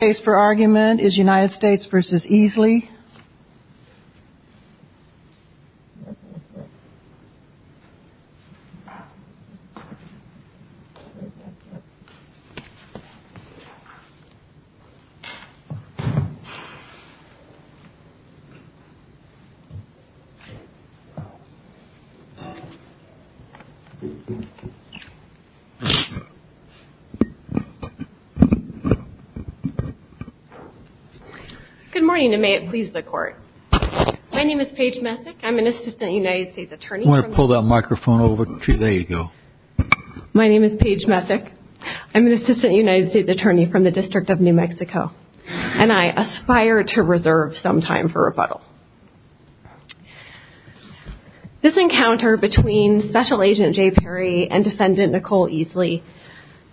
The case for argument is United States v. Easley. Good morning and may it please the court. My name is Paige Messick. I'm an assistant United States attorney. I want to pull that microphone over to you. There you go. My name is Paige Messick. I'm an assistant United States attorney from the District of New Mexico. And I aspire to reserve some time for rebuttal. This encounter between Special Agent Jay Perry and Defendant Nicole Easley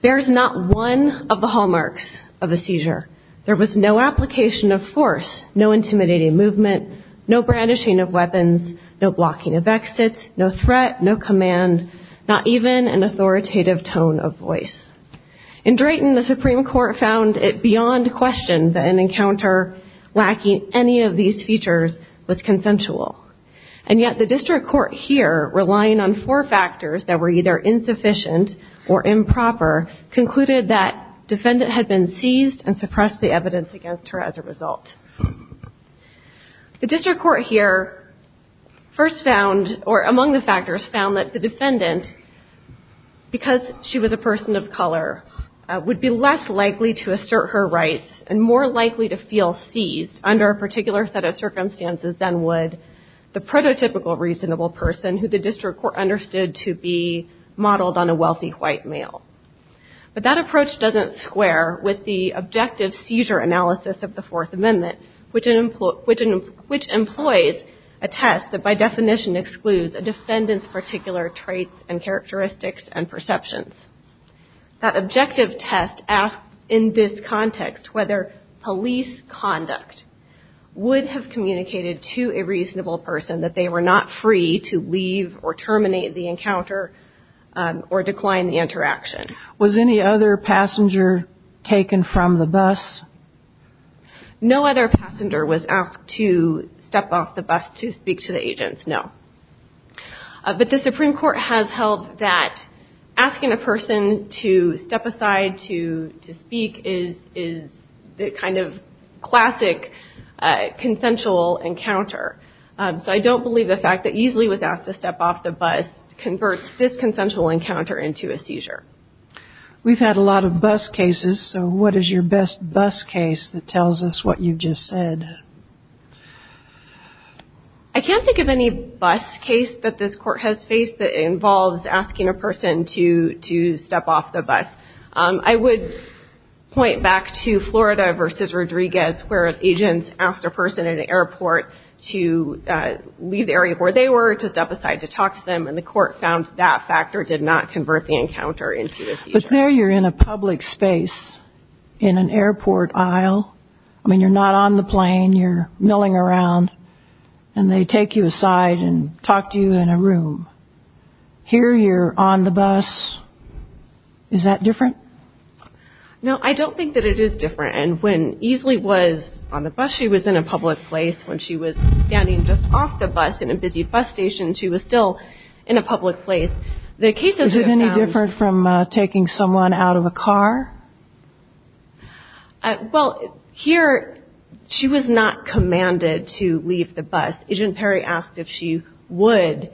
bears not one of the hallmarks of a seizure. There was no application of force, no intimidating movement, no brandishing of weapons, no blocking of exits, no threat, no command, not even an authoritative tone of voice. In Drayton, the Supreme Court found it beyond question that an encounter lacking any of these features was consensual. And yet the District Court here, relying on four factors that were either insufficient or improper, concluded that Defendant had been seized and suppressed the evidence against her as a result. The District Court here first found, or among the factors, found that the Defendant, because she was a person of color, would be less likely to assert her rights and more likely to feel seized under a particular set of circumstances than would the prototypical reasonable person who the District Court understood to be modeled on a wealthy white male. But that approach doesn't square with the objective seizure analysis of the Fourth Amendment, which employs a test that by definition excludes a defendant's particular traits and characteristics and perceptions. That objective test asks, in this context, whether police conduct would have communicated to a reasonable person that they were not free to leave or terminate the encounter or decline the interaction. Was any other passenger taken from the bus? No other passenger was asked to step off the bus to speak to the agents, no. But the Supreme Court has held that asking a person to step aside to speak is the kind of classic consensual encounter. So I don't believe the fact that Easley was asked to step off the bus converts this consensual encounter into a seizure. We've had a lot of bus cases, so what is your best bus case that tells us what you've just said? I can't think of any bus case that this Court has faced that involves asking a person to step off the bus. I would point back to Florida v. Rodriguez, where agents asked a person at an airport to leave the area where they were to step aside to talk to them, and the Court found that factor did not convert the encounter into a seizure. But there you're in a public space in an airport aisle. I mean, you're not on the plane. You're milling around, and they take you aside and talk to you in a room. Here you're on the bus. Is that different? No, I don't think that it is different. And when Easley was on the bus, she was in a public place. When she was standing just off the bus in a busy bus station, she was still in a public place. Is it any different from taking someone out of a car? Well, here she was not commanded to leave the bus. Agent Perry asked if she would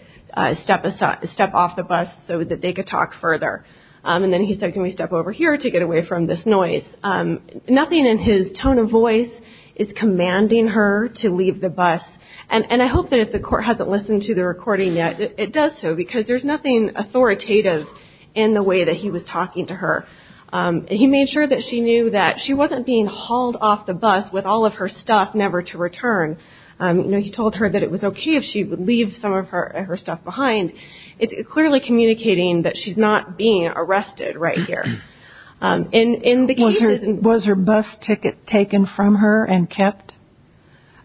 step off the bus so that they could talk further. And then he said, can we step over here to get away from this noise? Nothing in his tone of voice is commanding her to leave the bus. And I hope that if the Court hasn't listened to the recording yet, it does so, because there's nothing authoritative in the way that he was talking to her. He made sure that she knew that she wasn't being hauled off the bus with all of her stuff never to return. He told her that it was okay if she would leave some of her stuff behind. It's clearly communicating that she's not being arrested right here. Was her bus ticket taken from her and kept?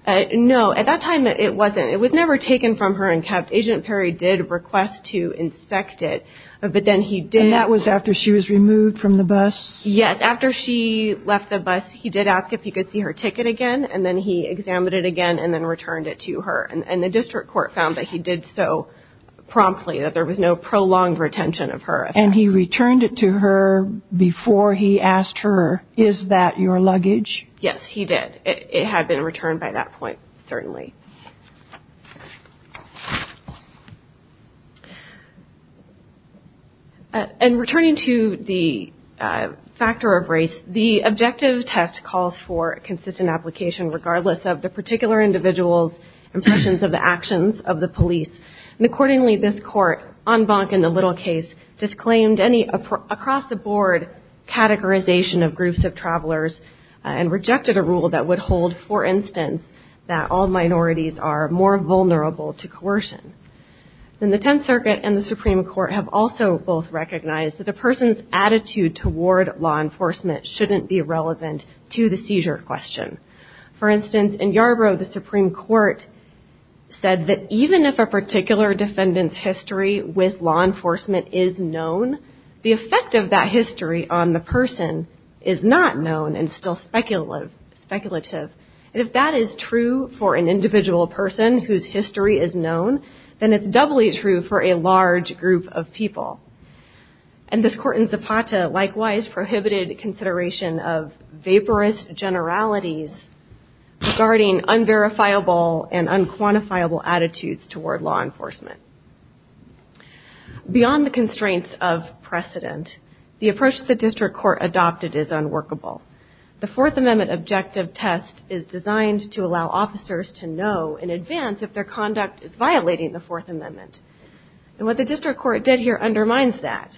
No, at that time it wasn't. It was never taken from her and kept. Agent Perry did request to inspect it, but then he didn't. And that was after she was removed from the bus? Yes. After she left the bus, he did ask if he could see her ticket again, and then he examined it again and then returned it to her. And the district court found that he did so promptly, that there was no prolonged retention of her. And he returned it to her before he asked her, is that your luggage? Yes, he did. It had been returned by that point, certainly. And returning to the factor of race, the objective test calls for consistent application, regardless of the particular individual's impressions of the actions of the police. And accordingly, this court, en banc in the little case, disclaimed any across-the-board categorization of groups of travelers and rejected a rule that would hold, for instance, that all minorities are more vulnerable to coercion. And the Tenth Circuit and the Supreme Court have also both recognized that a person's attitude toward law enforcement shouldn't be relevant to the seizure question. For instance, in Yarbrough, the Supreme Court said that even if a particular defendant's history with law enforcement is known, the effect of that history on the person is not known and still speculative. And if that is true for an individual person whose history is known, then it's doubly true for a large group of people. And this court in Zapata, likewise, prohibited consideration of vaporous generalities regarding unverifiable and unquantifiable attitudes toward law enforcement. Beyond the constraints of precedent, the approach the district court adopted is unworkable. The Fourth Amendment objective test is designed to allow officers to know in advance if their conduct is violating the Fourth Amendment. And what the district court did here undermines that.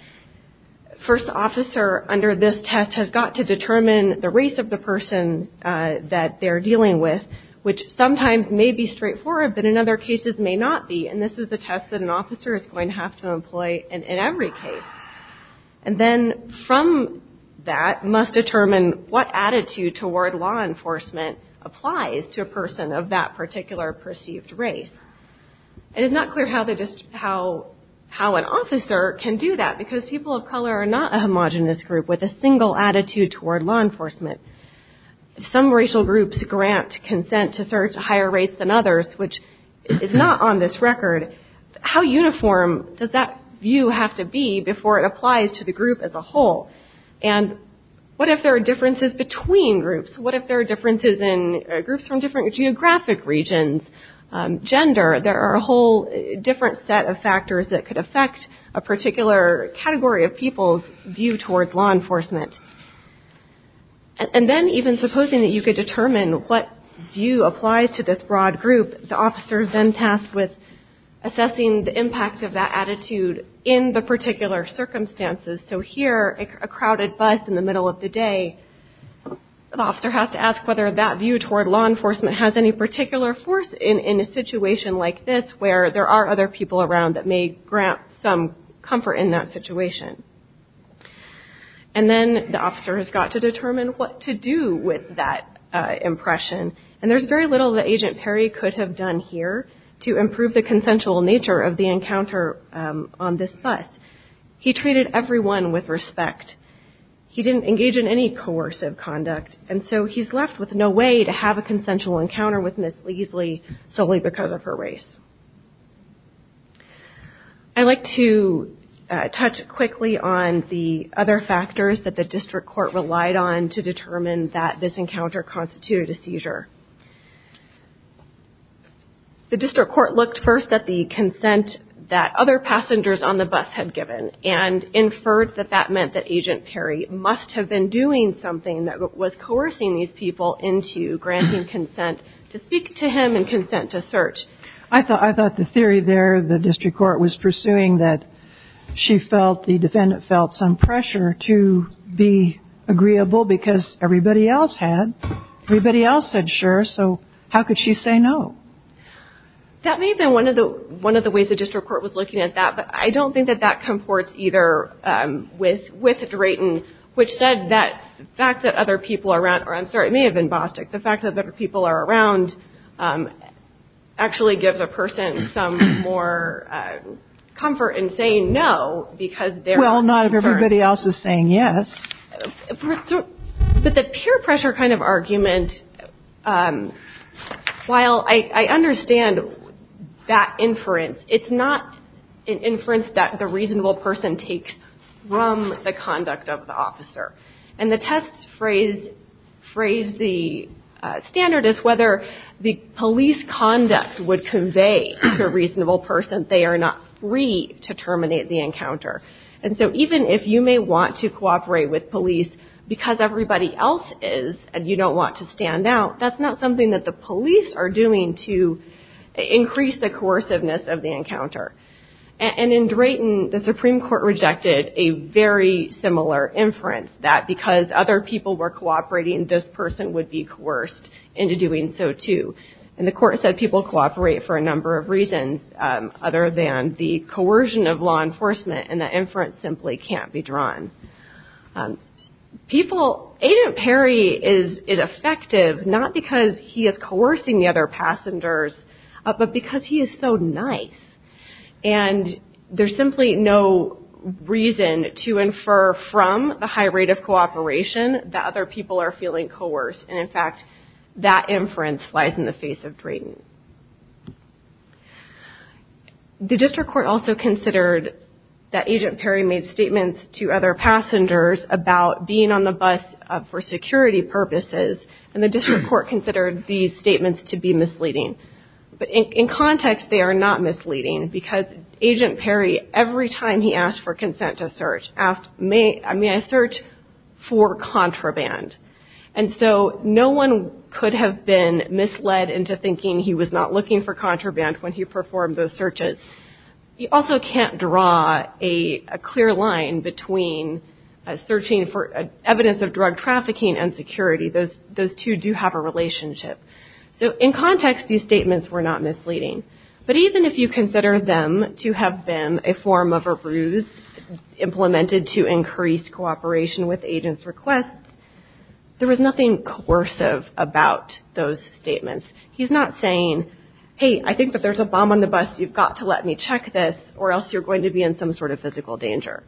The first officer under this test has got to determine the race of the person that they're dealing with, which sometimes may be straightforward, but in other cases may not be. And this is a test that an officer is going to have to employ in every case. And then from that, must determine what attitude toward law enforcement applies to a person of that particular perceived race. It is not clear how an officer can do that because people of color are not a homogenous group with a single attitude toward law enforcement. Some racial groups grant consent to search higher rates than others, which is not on this record. How uniform does that view have to be before it applies to the group as a whole? And what if there are differences between groups? What if there are differences in groups from different geographic regions, gender? There are a whole different set of factors that could affect a particular category of people's view towards law enforcement. And then even supposing that you could determine what view applies to this broad group, the officer is then tasked with assessing the impact of that attitude in the particular circumstances. So here, a crowded bus in the middle of the day, the officer has to ask whether that view toward law enforcement has any particular force in a situation like this, where there are other people around that may grant some comfort in that situation. And then the officer has got to determine what to do with that impression, and there's very little that Agent Perry could have done here to improve the consensual nature of the encounter on this bus. He treated everyone with respect. He didn't engage in any coercive conduct, and so he's left with no way to have a consensual encounter with Ms. Leasley solely because of her race. I'd like to touch quickly on the other factors that the district court relied on to determine that this encounter constituted a seizure. The district court looked first at the consent that other passengers on the bus had given and inferred that that meant that Agent Perry must have been doing something that was coercing these people into granting consent to speak to him and consent to search. I thought the theory there, the district court was pursuing that she felt, the defendant felt some pressure to be agreeable because everybody else had. Everybody else said sure, so how could she say no? That may have been one of the ways the district court was looking at that, but I don't think that that comports either with Drayton, which said that the fact that other people around, or I'm sorry, it may have been Bostic, the fact that other people are around actually gives a person some more comfort in saying no because they're inferred. Well, not if everybody else is saying yes. But the peer pressure kind of argument, while I understand that inference, it's not an inference that the reasonable person takes from the conduct of the officer. And the test phrase, the standard is whether the police conduct would convey to a reasonable person they are not free to terminate the encounter. And so even if you may want to cooperate with police because everybody else is and you don't want to stand out, that's not something that the police are doing to increase the coerciveness of the encounter. And in Drayton, the Supreme Court rejected a very similar inference that because other people were cooperating, this person would be coerced into doing so too. And the court said people cooperate for a number of reasons other than the coercion of law enforcement and the inference simply can't be drawn. Agent Perry is effective not because he is coercing the other passengers, but because he is so nice. And there's simply no reason to infer from the high rate of cooperation that other people are feeling coerced. And in fact, that inference lies in the face of Drayton. The district court also considered that Agent Perry made statements to other passengers about being on the bus for security purposes. And the district court considered these statements to be misleading. But in context, they are not misleading because Agent Perry, every time he asked for consent to search, asked, may I search for contraband? And so no one could have been misled into thinking he was not looking for contraband when he performed those searches. You also can't draw a clear line between searching for evidence of drug trafficking and security. Those two do have a relationship. So in context, these statements were not misleading. But even if you consider them to have been a form of a ruse implemented to increase cooperation with agents' requests, there was nothing coercive about those statements. He's not saying, hey, I think that there's a bomb on the bus. You've got to let me check this or else you're going to be in some sort of physical danger.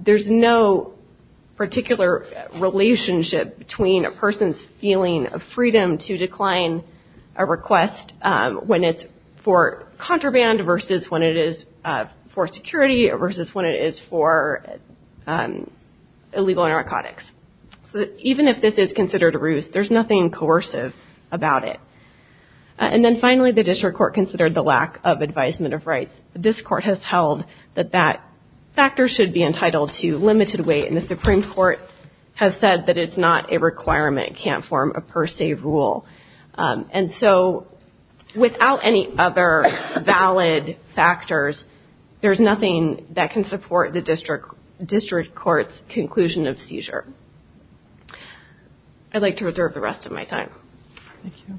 There's no particular relationship between a person's feeling of freedom to decline a request when it's for contraband versus when it is for security versus when it is for illegal narcotics. So even if this is considered a ruse, there's nothing coercive about it. And then finally, the district court considered the lack of advisement of rights. This court has held that that factor should be entitled to limited weight. And the Supreme Court has said that it's not a requirement. It can't form a per se rule. And so without any other valid factors, there's nothing that can support the district court's conclusion of seizure. I'd like to reserve the rest of my time. Thank you.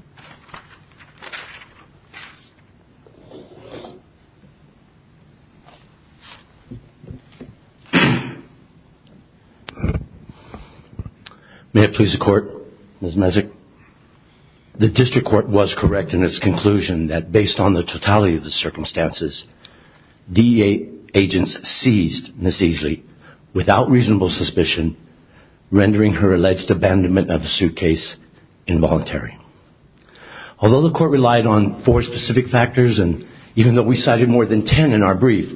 May it please the Court, Ms. Mezek. The district court was correct in its conclusion that based on the totality of the circumstances, DEA agents seized Ms. Easley without reasonable suspicion, rendering her alleged abandonment of the suitcase involuntary. Although the court relied on four specific factors and even though we cited more than ten in our brief,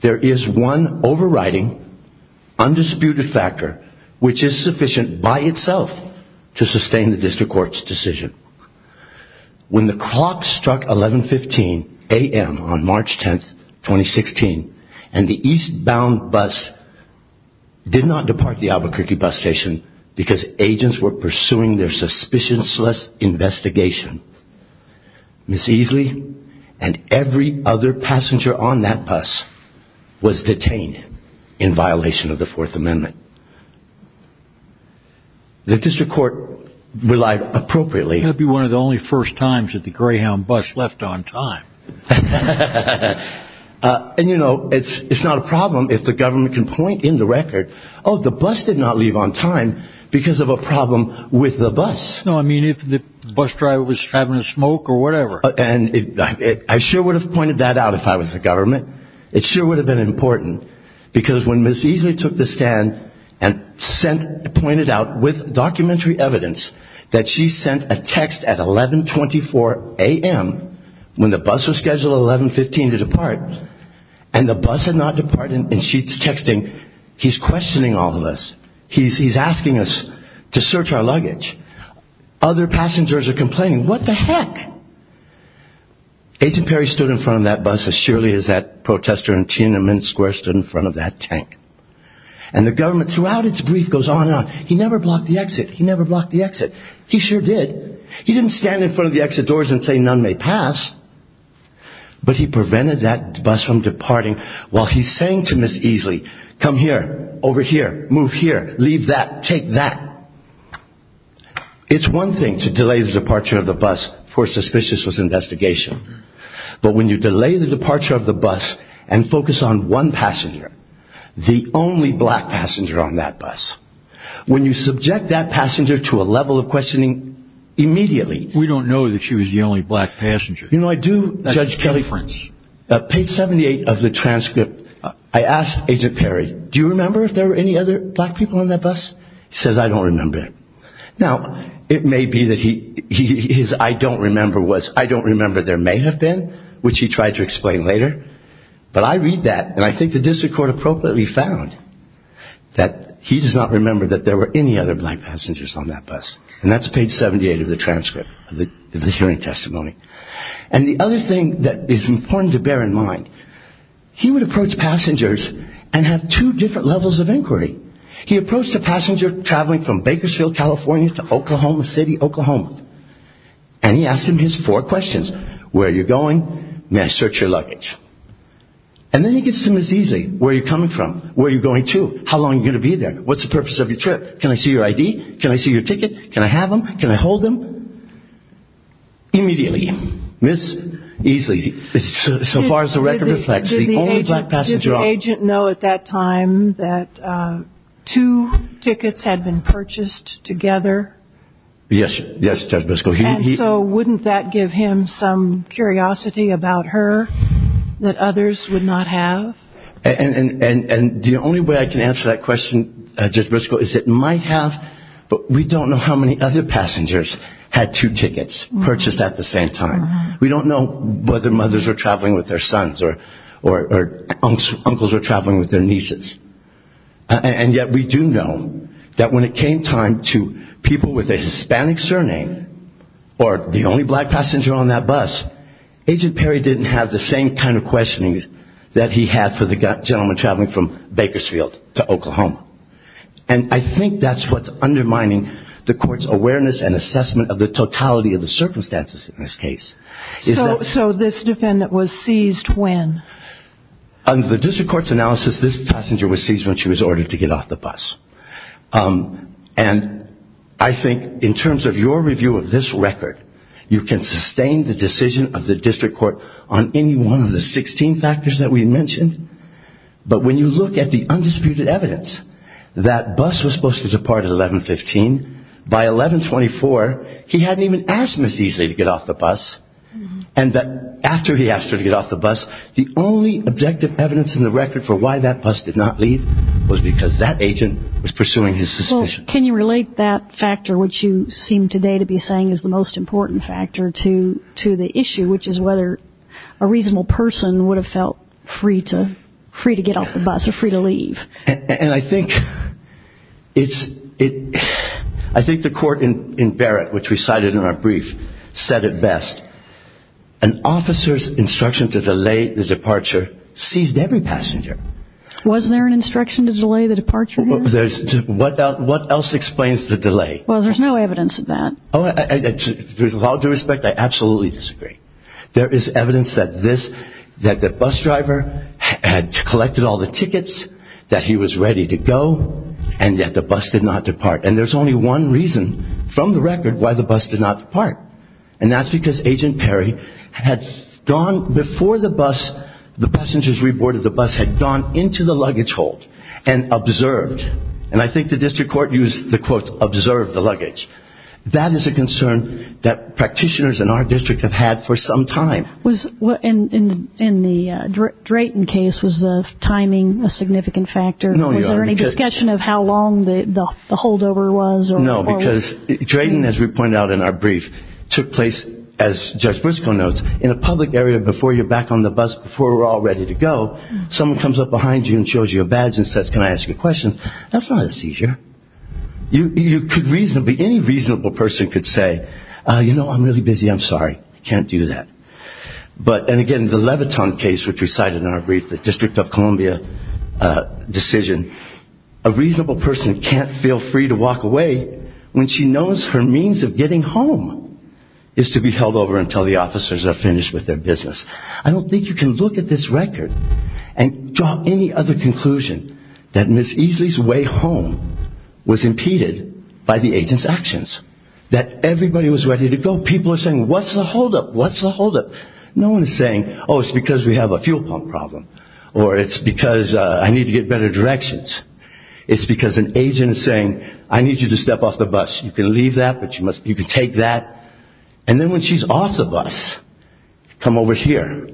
there is one overriding, undisputed factor which is sufficient by itself to sustain the district court's decision. When the clock struck 1115 a.m. on March 10th, 2016, and the eastbound bus did not depart the Albuquerque bus station because agents were pursuing their suspicious investigation, Ms. Easley and every other passenger on that bus was detained in violation of the Fourth Amendment. The district court relied appropriately. That would be one of the only first times that the Greyhound bus left on time. And, you know, it's not a problem if the government can point in the record, oh, the bus did not leave on time because of a problem with the bus. No, I mean if the bus driver was having a smoke or whatever. And I sure would have pointed that out if I was the government. It sure would have been important because when Ms. Easley took the stand and pointed out with documentary evidence that she sent a text at 1124 a.m. when the bus was scheduled at 1115 to depart and the bus had not departed and she's texting, he's questioning all of us. He's asking us to search our luggage. Other passengers are complaining, what the heck? Agent Perry stood in front of that bus as surely as that protester in Tiananmen Square stood in front of that tank. And the government throughout its brief goes on and on. He never blocked the exit. He never blocked the exit. He sure did. He didn't stand in front of the exit doors and say none may pass. But he prevented that bus from departing while he's saying to Ms. Easley, come here, over here, move here, leave that, take that. It's one thing to delay the departure of the bus for a suspicious investigation. But when you delay the departure of the bus and focus on one passenger, the only black passenger on that bus, when you subject that passenger to a level of questioning immediately. We don't know that she was the only black passenger. You know, I do, Judge Kelly, page 78 of the transcript, I asked Agent Perry, do you remember if there were any other black people on that bus? He says, I don't remember. Now, it may be that his I don't remember was, I don't remember there may have been, which he tried to explain later. But I read that and I think the district court appropriately found that he does not remember that there were any other black passengers on that bus. And that's page 78 of the transcript of the hearing testimony. And the other thing that is important to bear in mind, he would approach passengers and have two different levels of inquiry. He approached a passenger traveling from Bakersfield, California, to Oklahoma City, Oklahoma. And he asked him his four questions. Where are you going? May I search your luggage? And then he gets to Ms. Easley, where are you coming from? Where are you going to? How long are you going to be there? What's the purpose of your trip? Can I see your ID? Can I see your ticket? Can I have them? Can I hold them? Immediately, Ms. Easley, so far as the record reflects, the only black passenger on that bus. Two tickets had been purchased together. Yes, Judge Briscoe. And so wouldn't that give him some curiosity about her that others would not have? And the only way I can answer that question, Judge Briscoe, is it might have, but we don't know how many other passengers had two tickets purchased at the same time. We don't know whether mothers were traveling with their sons or uncles were traveling with their nieces. And yet we do know that when it came time to people with a Hispanic surname or the only black passenger on that bus, Agent Perry didn't have the same kind of questionings that he had for the gentleman traveling from Bakersfield to Oklahoma. And I think that's what's undermining the court's awareness and assessment of the totality of the circumstances in this case. So this defendant was seized when? Under the district court's analysis, this passenger was seized when she was ordered to get off the bus. And I think in terms of your review of this record, you can sustain the decision of the district court on any one of the 16 factors that we mentioned. But when you look at the undisputed evidence, that bus was supposed to depart at 1115. By 1124, he hadn't even asked Ms. Easley to get off the bus. And after he asked her to get off the bus, the only objective evidence in the record for why that bus did not leave was because that agent was pursuing his suspicion. Can you relate that factor, which you seem today to be saying is the most important factor to the issue, which is whether a reasonable person would have felt free to get off the bus or free to leave? And I think the court in Barrett, which we cited in our brief, said it best. An officer's instruction to delay the departure seized every passenger. Was there an instruction to delay the departure? What else explains the delay? Well, there's no evidence of that. With all due respect, I absolutely disagree. There is evidence that this, that the bus driver had collected all the tickets, that he was ready to go, and yet the bus did not depart. And there's only one reason from the record why the bus did not depart. And that's because Agent Perry had gone before the bus, the passengers re-boarded the bus, had gone into the luggage hold and observed. And I think the district court used the quote, observed the luggage. That is a concern that practitioners in our district have had for some time. In the Drayton case, was the timing a significant factor? Was there any discussion of how long the holdover was? No, because Drayton, as we pointed out in our brief, took place, as Judge Briscoe notes, in a public area before you're back on the bus, before we're all ready to go, someone comes up behind you and shows you a badge and says, can I ask you a question? That's not a seizure. You could reasonably, any reasonable person could say, you know, I'm really busy, I'm sorry. Can't do that. But, and again, the Leviton case, which we cited in our brief, the District of Columbia decision, a reasonable person can't feel free to walk away when she knows her means of getting home is to be held over until the officers are finished with their business. I don't think you can look at this record and draw any other conclusion that Ms. Easley's way home was impeded by the agent's actions, that everybody was ready to go. People are saying, what's the holdup, what's the holdup? No one is saying, oh, it's because we have a fuel pump problem, or it's because I need to get better directions. It's because an agent is saying, I need you to step off the bus. You can leave that, but you can take that. And then when she's off the bus, come over here.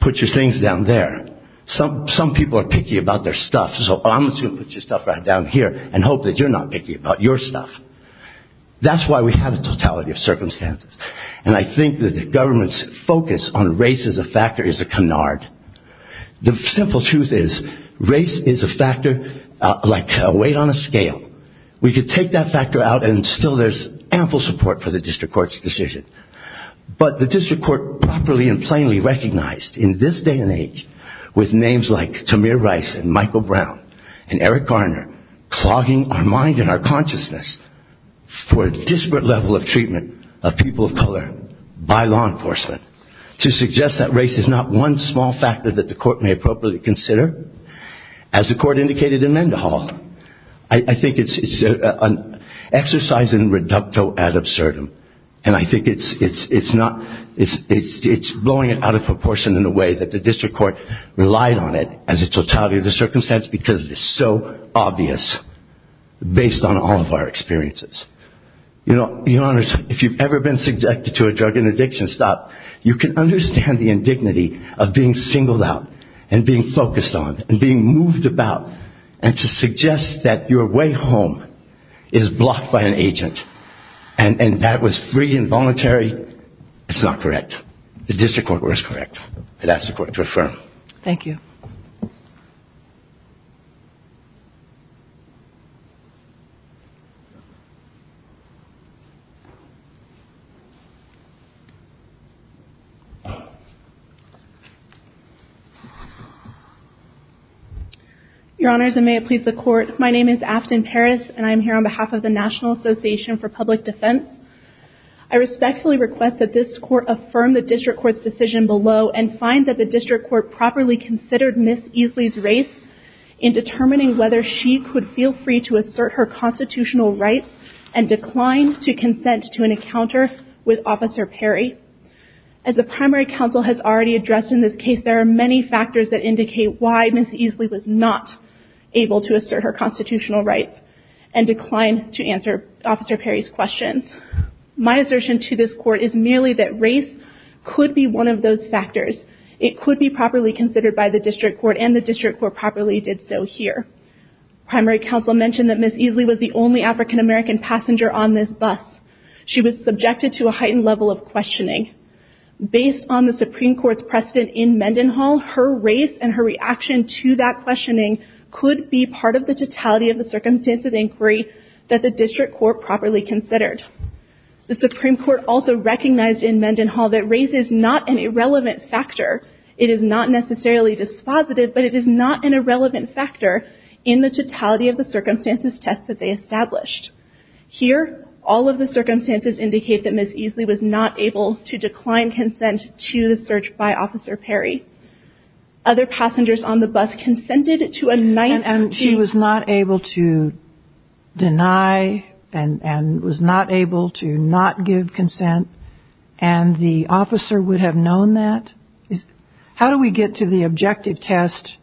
Put your things down there. Some people are picky about their stuff. So I'm just going to put your stuff right down here and hope that you're not picky about your stuff. That's why we have a totality of circumstances. And I think that the government's focus on race as a factor is a canard. The simple truth is race is a factor like a weight on a scale. We could take that factor out and still there's ample support for the district court's decision. But the district court properly and plainly recognized in this day and age, with names like Tamir Rice and Michael Brown and Eric Garner clogging our mind and our consciousness for a disparate level of treatment of people of color by law enforcement to suggest that race is not one small factor that the court may appropriately consider. As the court indicated in Mendenhall, I think it's an exercise in reducto ad absurdum. And I think it's blowing it out of proportion in a way that the district court relied on it as a totality of the circumstance because it's so obvious based on all of our experiences. Your Honor, if you've ever been subjected to a drug and addiction stop, you can understand the indignity of being singled out and being focused on and being moved about and to suggest that your way home is blocked by an agent. And that was free and voluntary, it's not correct. The district court was correct. I'd ask the court to affirm. Thank you. My name is Afton Parris and I'm here on behalf of the National Association for Public Defense. I respectfully request that this court affirm the district court's decision below and find that the district court properly considered Ms. Easley's race in determining whether she could feel free to assert her constitutional rights and decline to consent to an encounter with Officer Perry. As the primary counsel has already addressed in this case, there are many factors that indicate why Ms. Easley was not able to assert her constitutional rights and decline to answer Officer Perry's questions. My assertion to this court is merely that race could be one of those factors. It could be properly considered by the district court and the district court properly did so here. Primary counsel mentioned that Ms. Easley was the only African-American passenger on this bus. She was subjected to a heightened level of questioning. Based on the Supreme Court's precedent in Mendenhall, her race and her reaction to that questioning could be part of the totality of the circumstances inquiry that the district court properly considered. The Supreme Court also recognized in Mendenhall that race is not an irrelevant factor. It is not necessarily dispositive, but it is not an irrelevant factor in the totality of the circumstances test that they established. Here, all of the circumstances indicate that Ms. Easley was not able to decline consent to the search by Officer Perry. Other passengers on the bus consented to a night... And she was not able to deny and was not able to not give consent, and the officer would have known that? How do we get to the objective test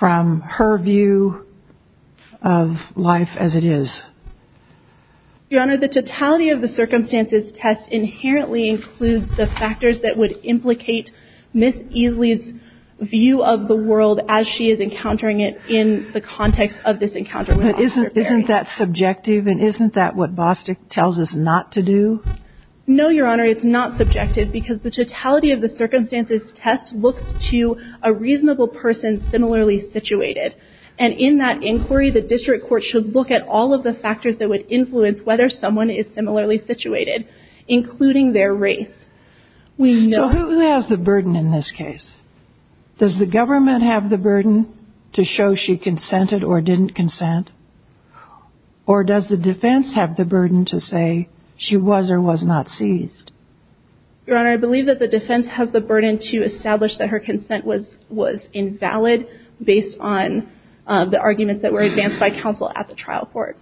from her view of life as it is? Your Honor, the totality of the circumstances test inherently includes the factors that would implicate Ms. Easley's view of the world as she is encountering it in the context of this encounter with Officer Perry. But isn't that subjective and isn't that what Bostick tells us not to do? No, Your Honor. It's not subjective because the totality of the circumstances test looks to a reasonable person similarly situated. And in that inquiry, the district court should look at all of the factors that would influence whether someone is similarly situated, including their race. So who has the burden in this case? Does the government have the burden to show she consented or didn't consent? Or does the defense have the burden to say she was or was not seized? Your Honor, I believe that the defense has the burden to establish that her consent was invalid based on the arguments that were advanced by counsel at the trial court.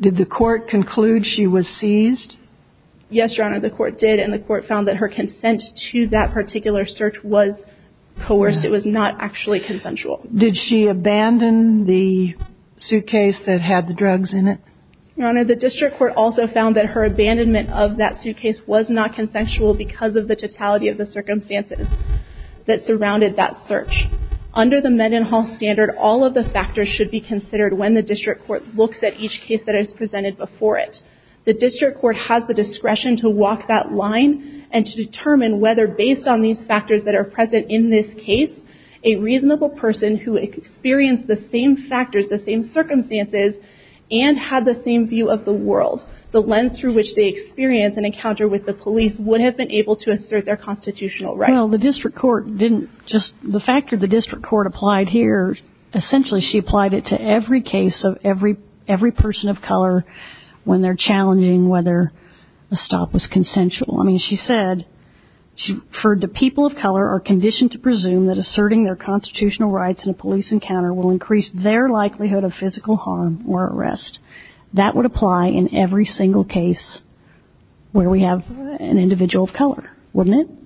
Did the court conclude she was seized? Yes, Your Honor, the court did. And the court found that her consent to that particular search was coerced. It was not actually consensual. Did she abandon the suitcase that had the drugs in it? Your Honor, the district court also found that her abandonment of that suitcase was not consensual because of the totality of the circumstances that surrounded that search. Under the Mendenhall standard, all of the factors should be considered when the district court looks at each case that is presented before it. The district court has the discretion to walk that line and to determine whether based on these factors that are present in this case, a reasonable person who experienced the same factors, the same circumstances, and had the same view of the world, the lens through which they experienced an encounter with the police, would have been able to assert their constitutional right. Well, the district court didn't just... The factor the district court applied here, essentially she applied it to every case of every person of color when they're challenging whether a stop was consensual. I mean, she said, for the people of color are conditioned to presume that asserting their constitutional rights in a police encounter will increase their likelihood of physical harm or arrest. That would apply in every single case where we have an individual of color, wouldn't it?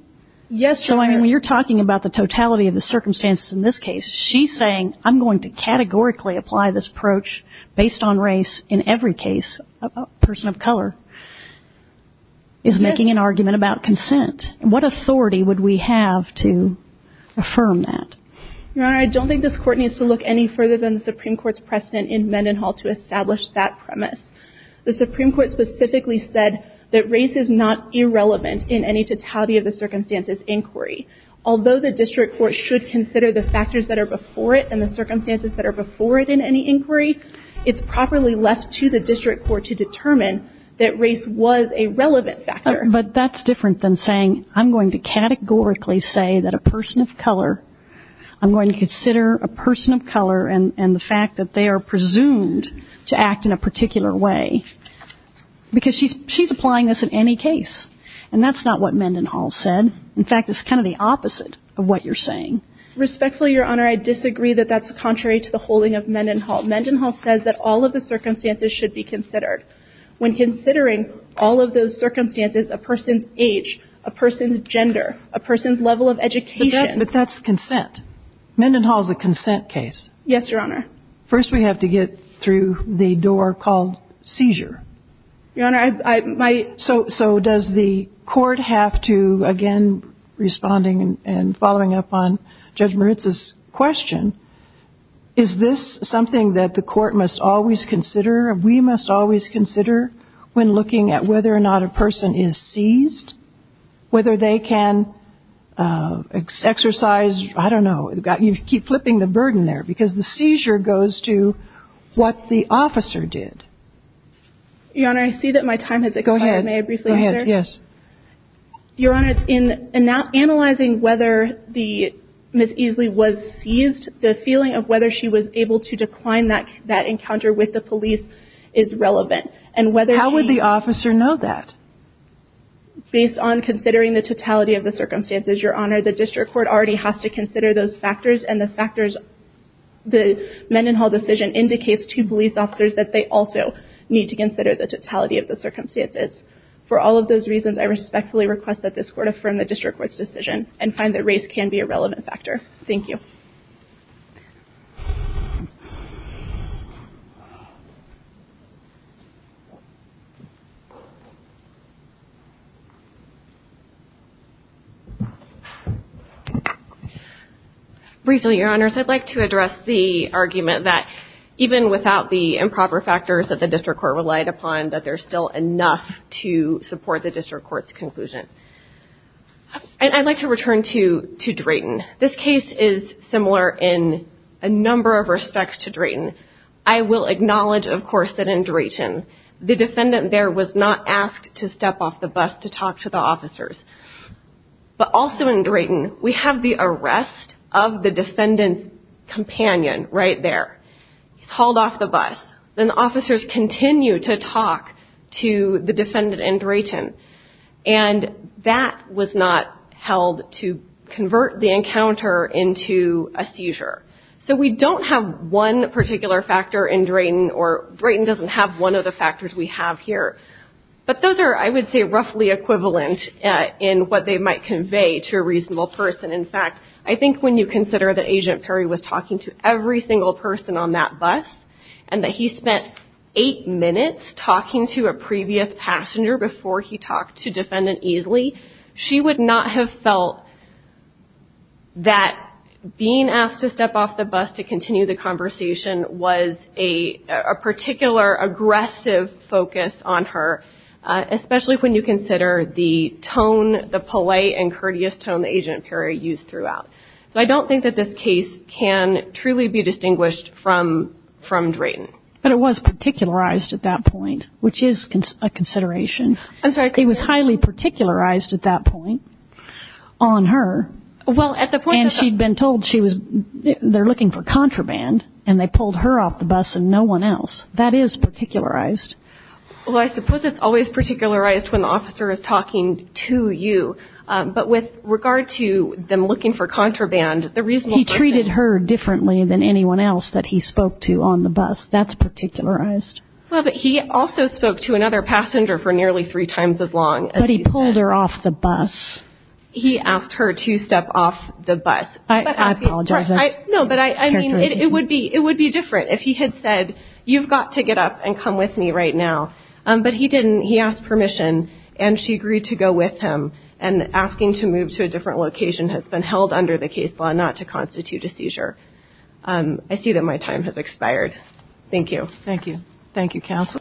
Yes, Your Honor. So, I mean, when you're talking about the totality of the circumstances in this case, she's saying, I'm going to categorically apply this approach based on race in every case. A person of color is making an argument about consent. What authority would we have to affirm that? Your Honor, I don't think this court needs to look any further than the Supreme Court's precedent in Mendenhall to establish that premise. The Supreme Court specifically said that race is not irrelevant in any totality of the circumstances inquiry. Although the district court should consider the factors that are before it and the circumstances that are before it in any inquiry, it's properly left to the district court to determine that race was a relevant factor. But that's different than saying, I'm going to categorically say that a person of color, I'm going to consider a person of color and the fact that they are presumed to act in a particular way. Because she's applying this in any case. And that's not what Mendenhall said. In fact, it's kind of the opposite of what you're saying. Mendenhall says that all of the circumstances should be considered. When considering all of those circumstances, a person's age, a person's gender, a person's level of education. But that's consent. Mendenhall is a consent case. Yes, Your Honor. First we have to get through the door called seizure. Your Honor, I... So does the court have to, again, responding and following up on Judge Moritz's question, is this something that the court must always consider and we must always consider when looking at whether or not a person is seized? Whether they can exercise, I don't know, you keep flipping the burden there because the seizure goes to what the officer did. Your Honor, I see that my time has expired. Go ahead. May I briefly answer? Go ahead. Yes. Your Honor, in analyzing whether Ms. Easley was seized, the feeling of whether she was able to decline that encounter with the police is relevant. How would the officer know that? Based on considering the totality of the circumstances, Your Honor, the district court already has to consider those factors and the factors, the Mendenhall decision indicates to police officers that they also need to consider the totality of the circumstances. For all of those reasons, I respectfully request that this court affirm the district court's decision and find that race can be a relevant factor. Thank you. Briefly, Your Honors, I'd like to address the argument that even without the improper factors that the district court relied upon, that there's still enough to support the district court's conclusion. And I'd like to return to Drayton. This case is similar in a number of respects to Drayton. I will acknowledge, of course, that in Drayton, the defendant there was not asked to step off the bus to talk to the officers. But also in Drayton, we have the arrest of the defendant's companion right there. He's hauled off the bus. Then the officers continue to talk to the defendant in Drayton. And that was not held to convert the encounter into a seizure. So we don't have one particular factor in Drayton, or Drayton doesn't have one of the factors we have here. But those are, I would say, roughly equivalent in what they might convey to a reasonable person. In fact, I think when you consider that Agent Perry was talking to every single person on that bus and that he spent eight minutes talking to a previous passenger before he talked to defendant Easley, she would not have felt that being asked to step off the bus to continue the conversation was a particular aggressive focus on her, especially when you consider the tone, the polite and courteous tone that Agent Perry used throughout. So I don't think that this case can truly be distinguished from Drayton. But it was particularized at that point, which is a consideration. I'm sorry. It was highly particularized at that point on her. And she'd been told they're looking for contraband, and they pulled her off the bus and no one else. That is particularized. Well, I suppose it's always particularized when the officer is talking to you. But with regard to them looking for contraband, the reasonable person. He treated her differently than anyone else that he spoke to on the bus. That's particularized. Well, but he also spoke to another passenger for nearly three times as long. But he pulled her off the bus. He asked her to step off the bus. I apologize. No, but I mean, it would be different if he had said, you've got to get up and come with me right now. But he didn't. He asked permission, and she agreed to go with him. And asking to move to a different location has been held under the case law not to constitute a seizure. I see that my time has expired. Thank you. Thank you, counsel.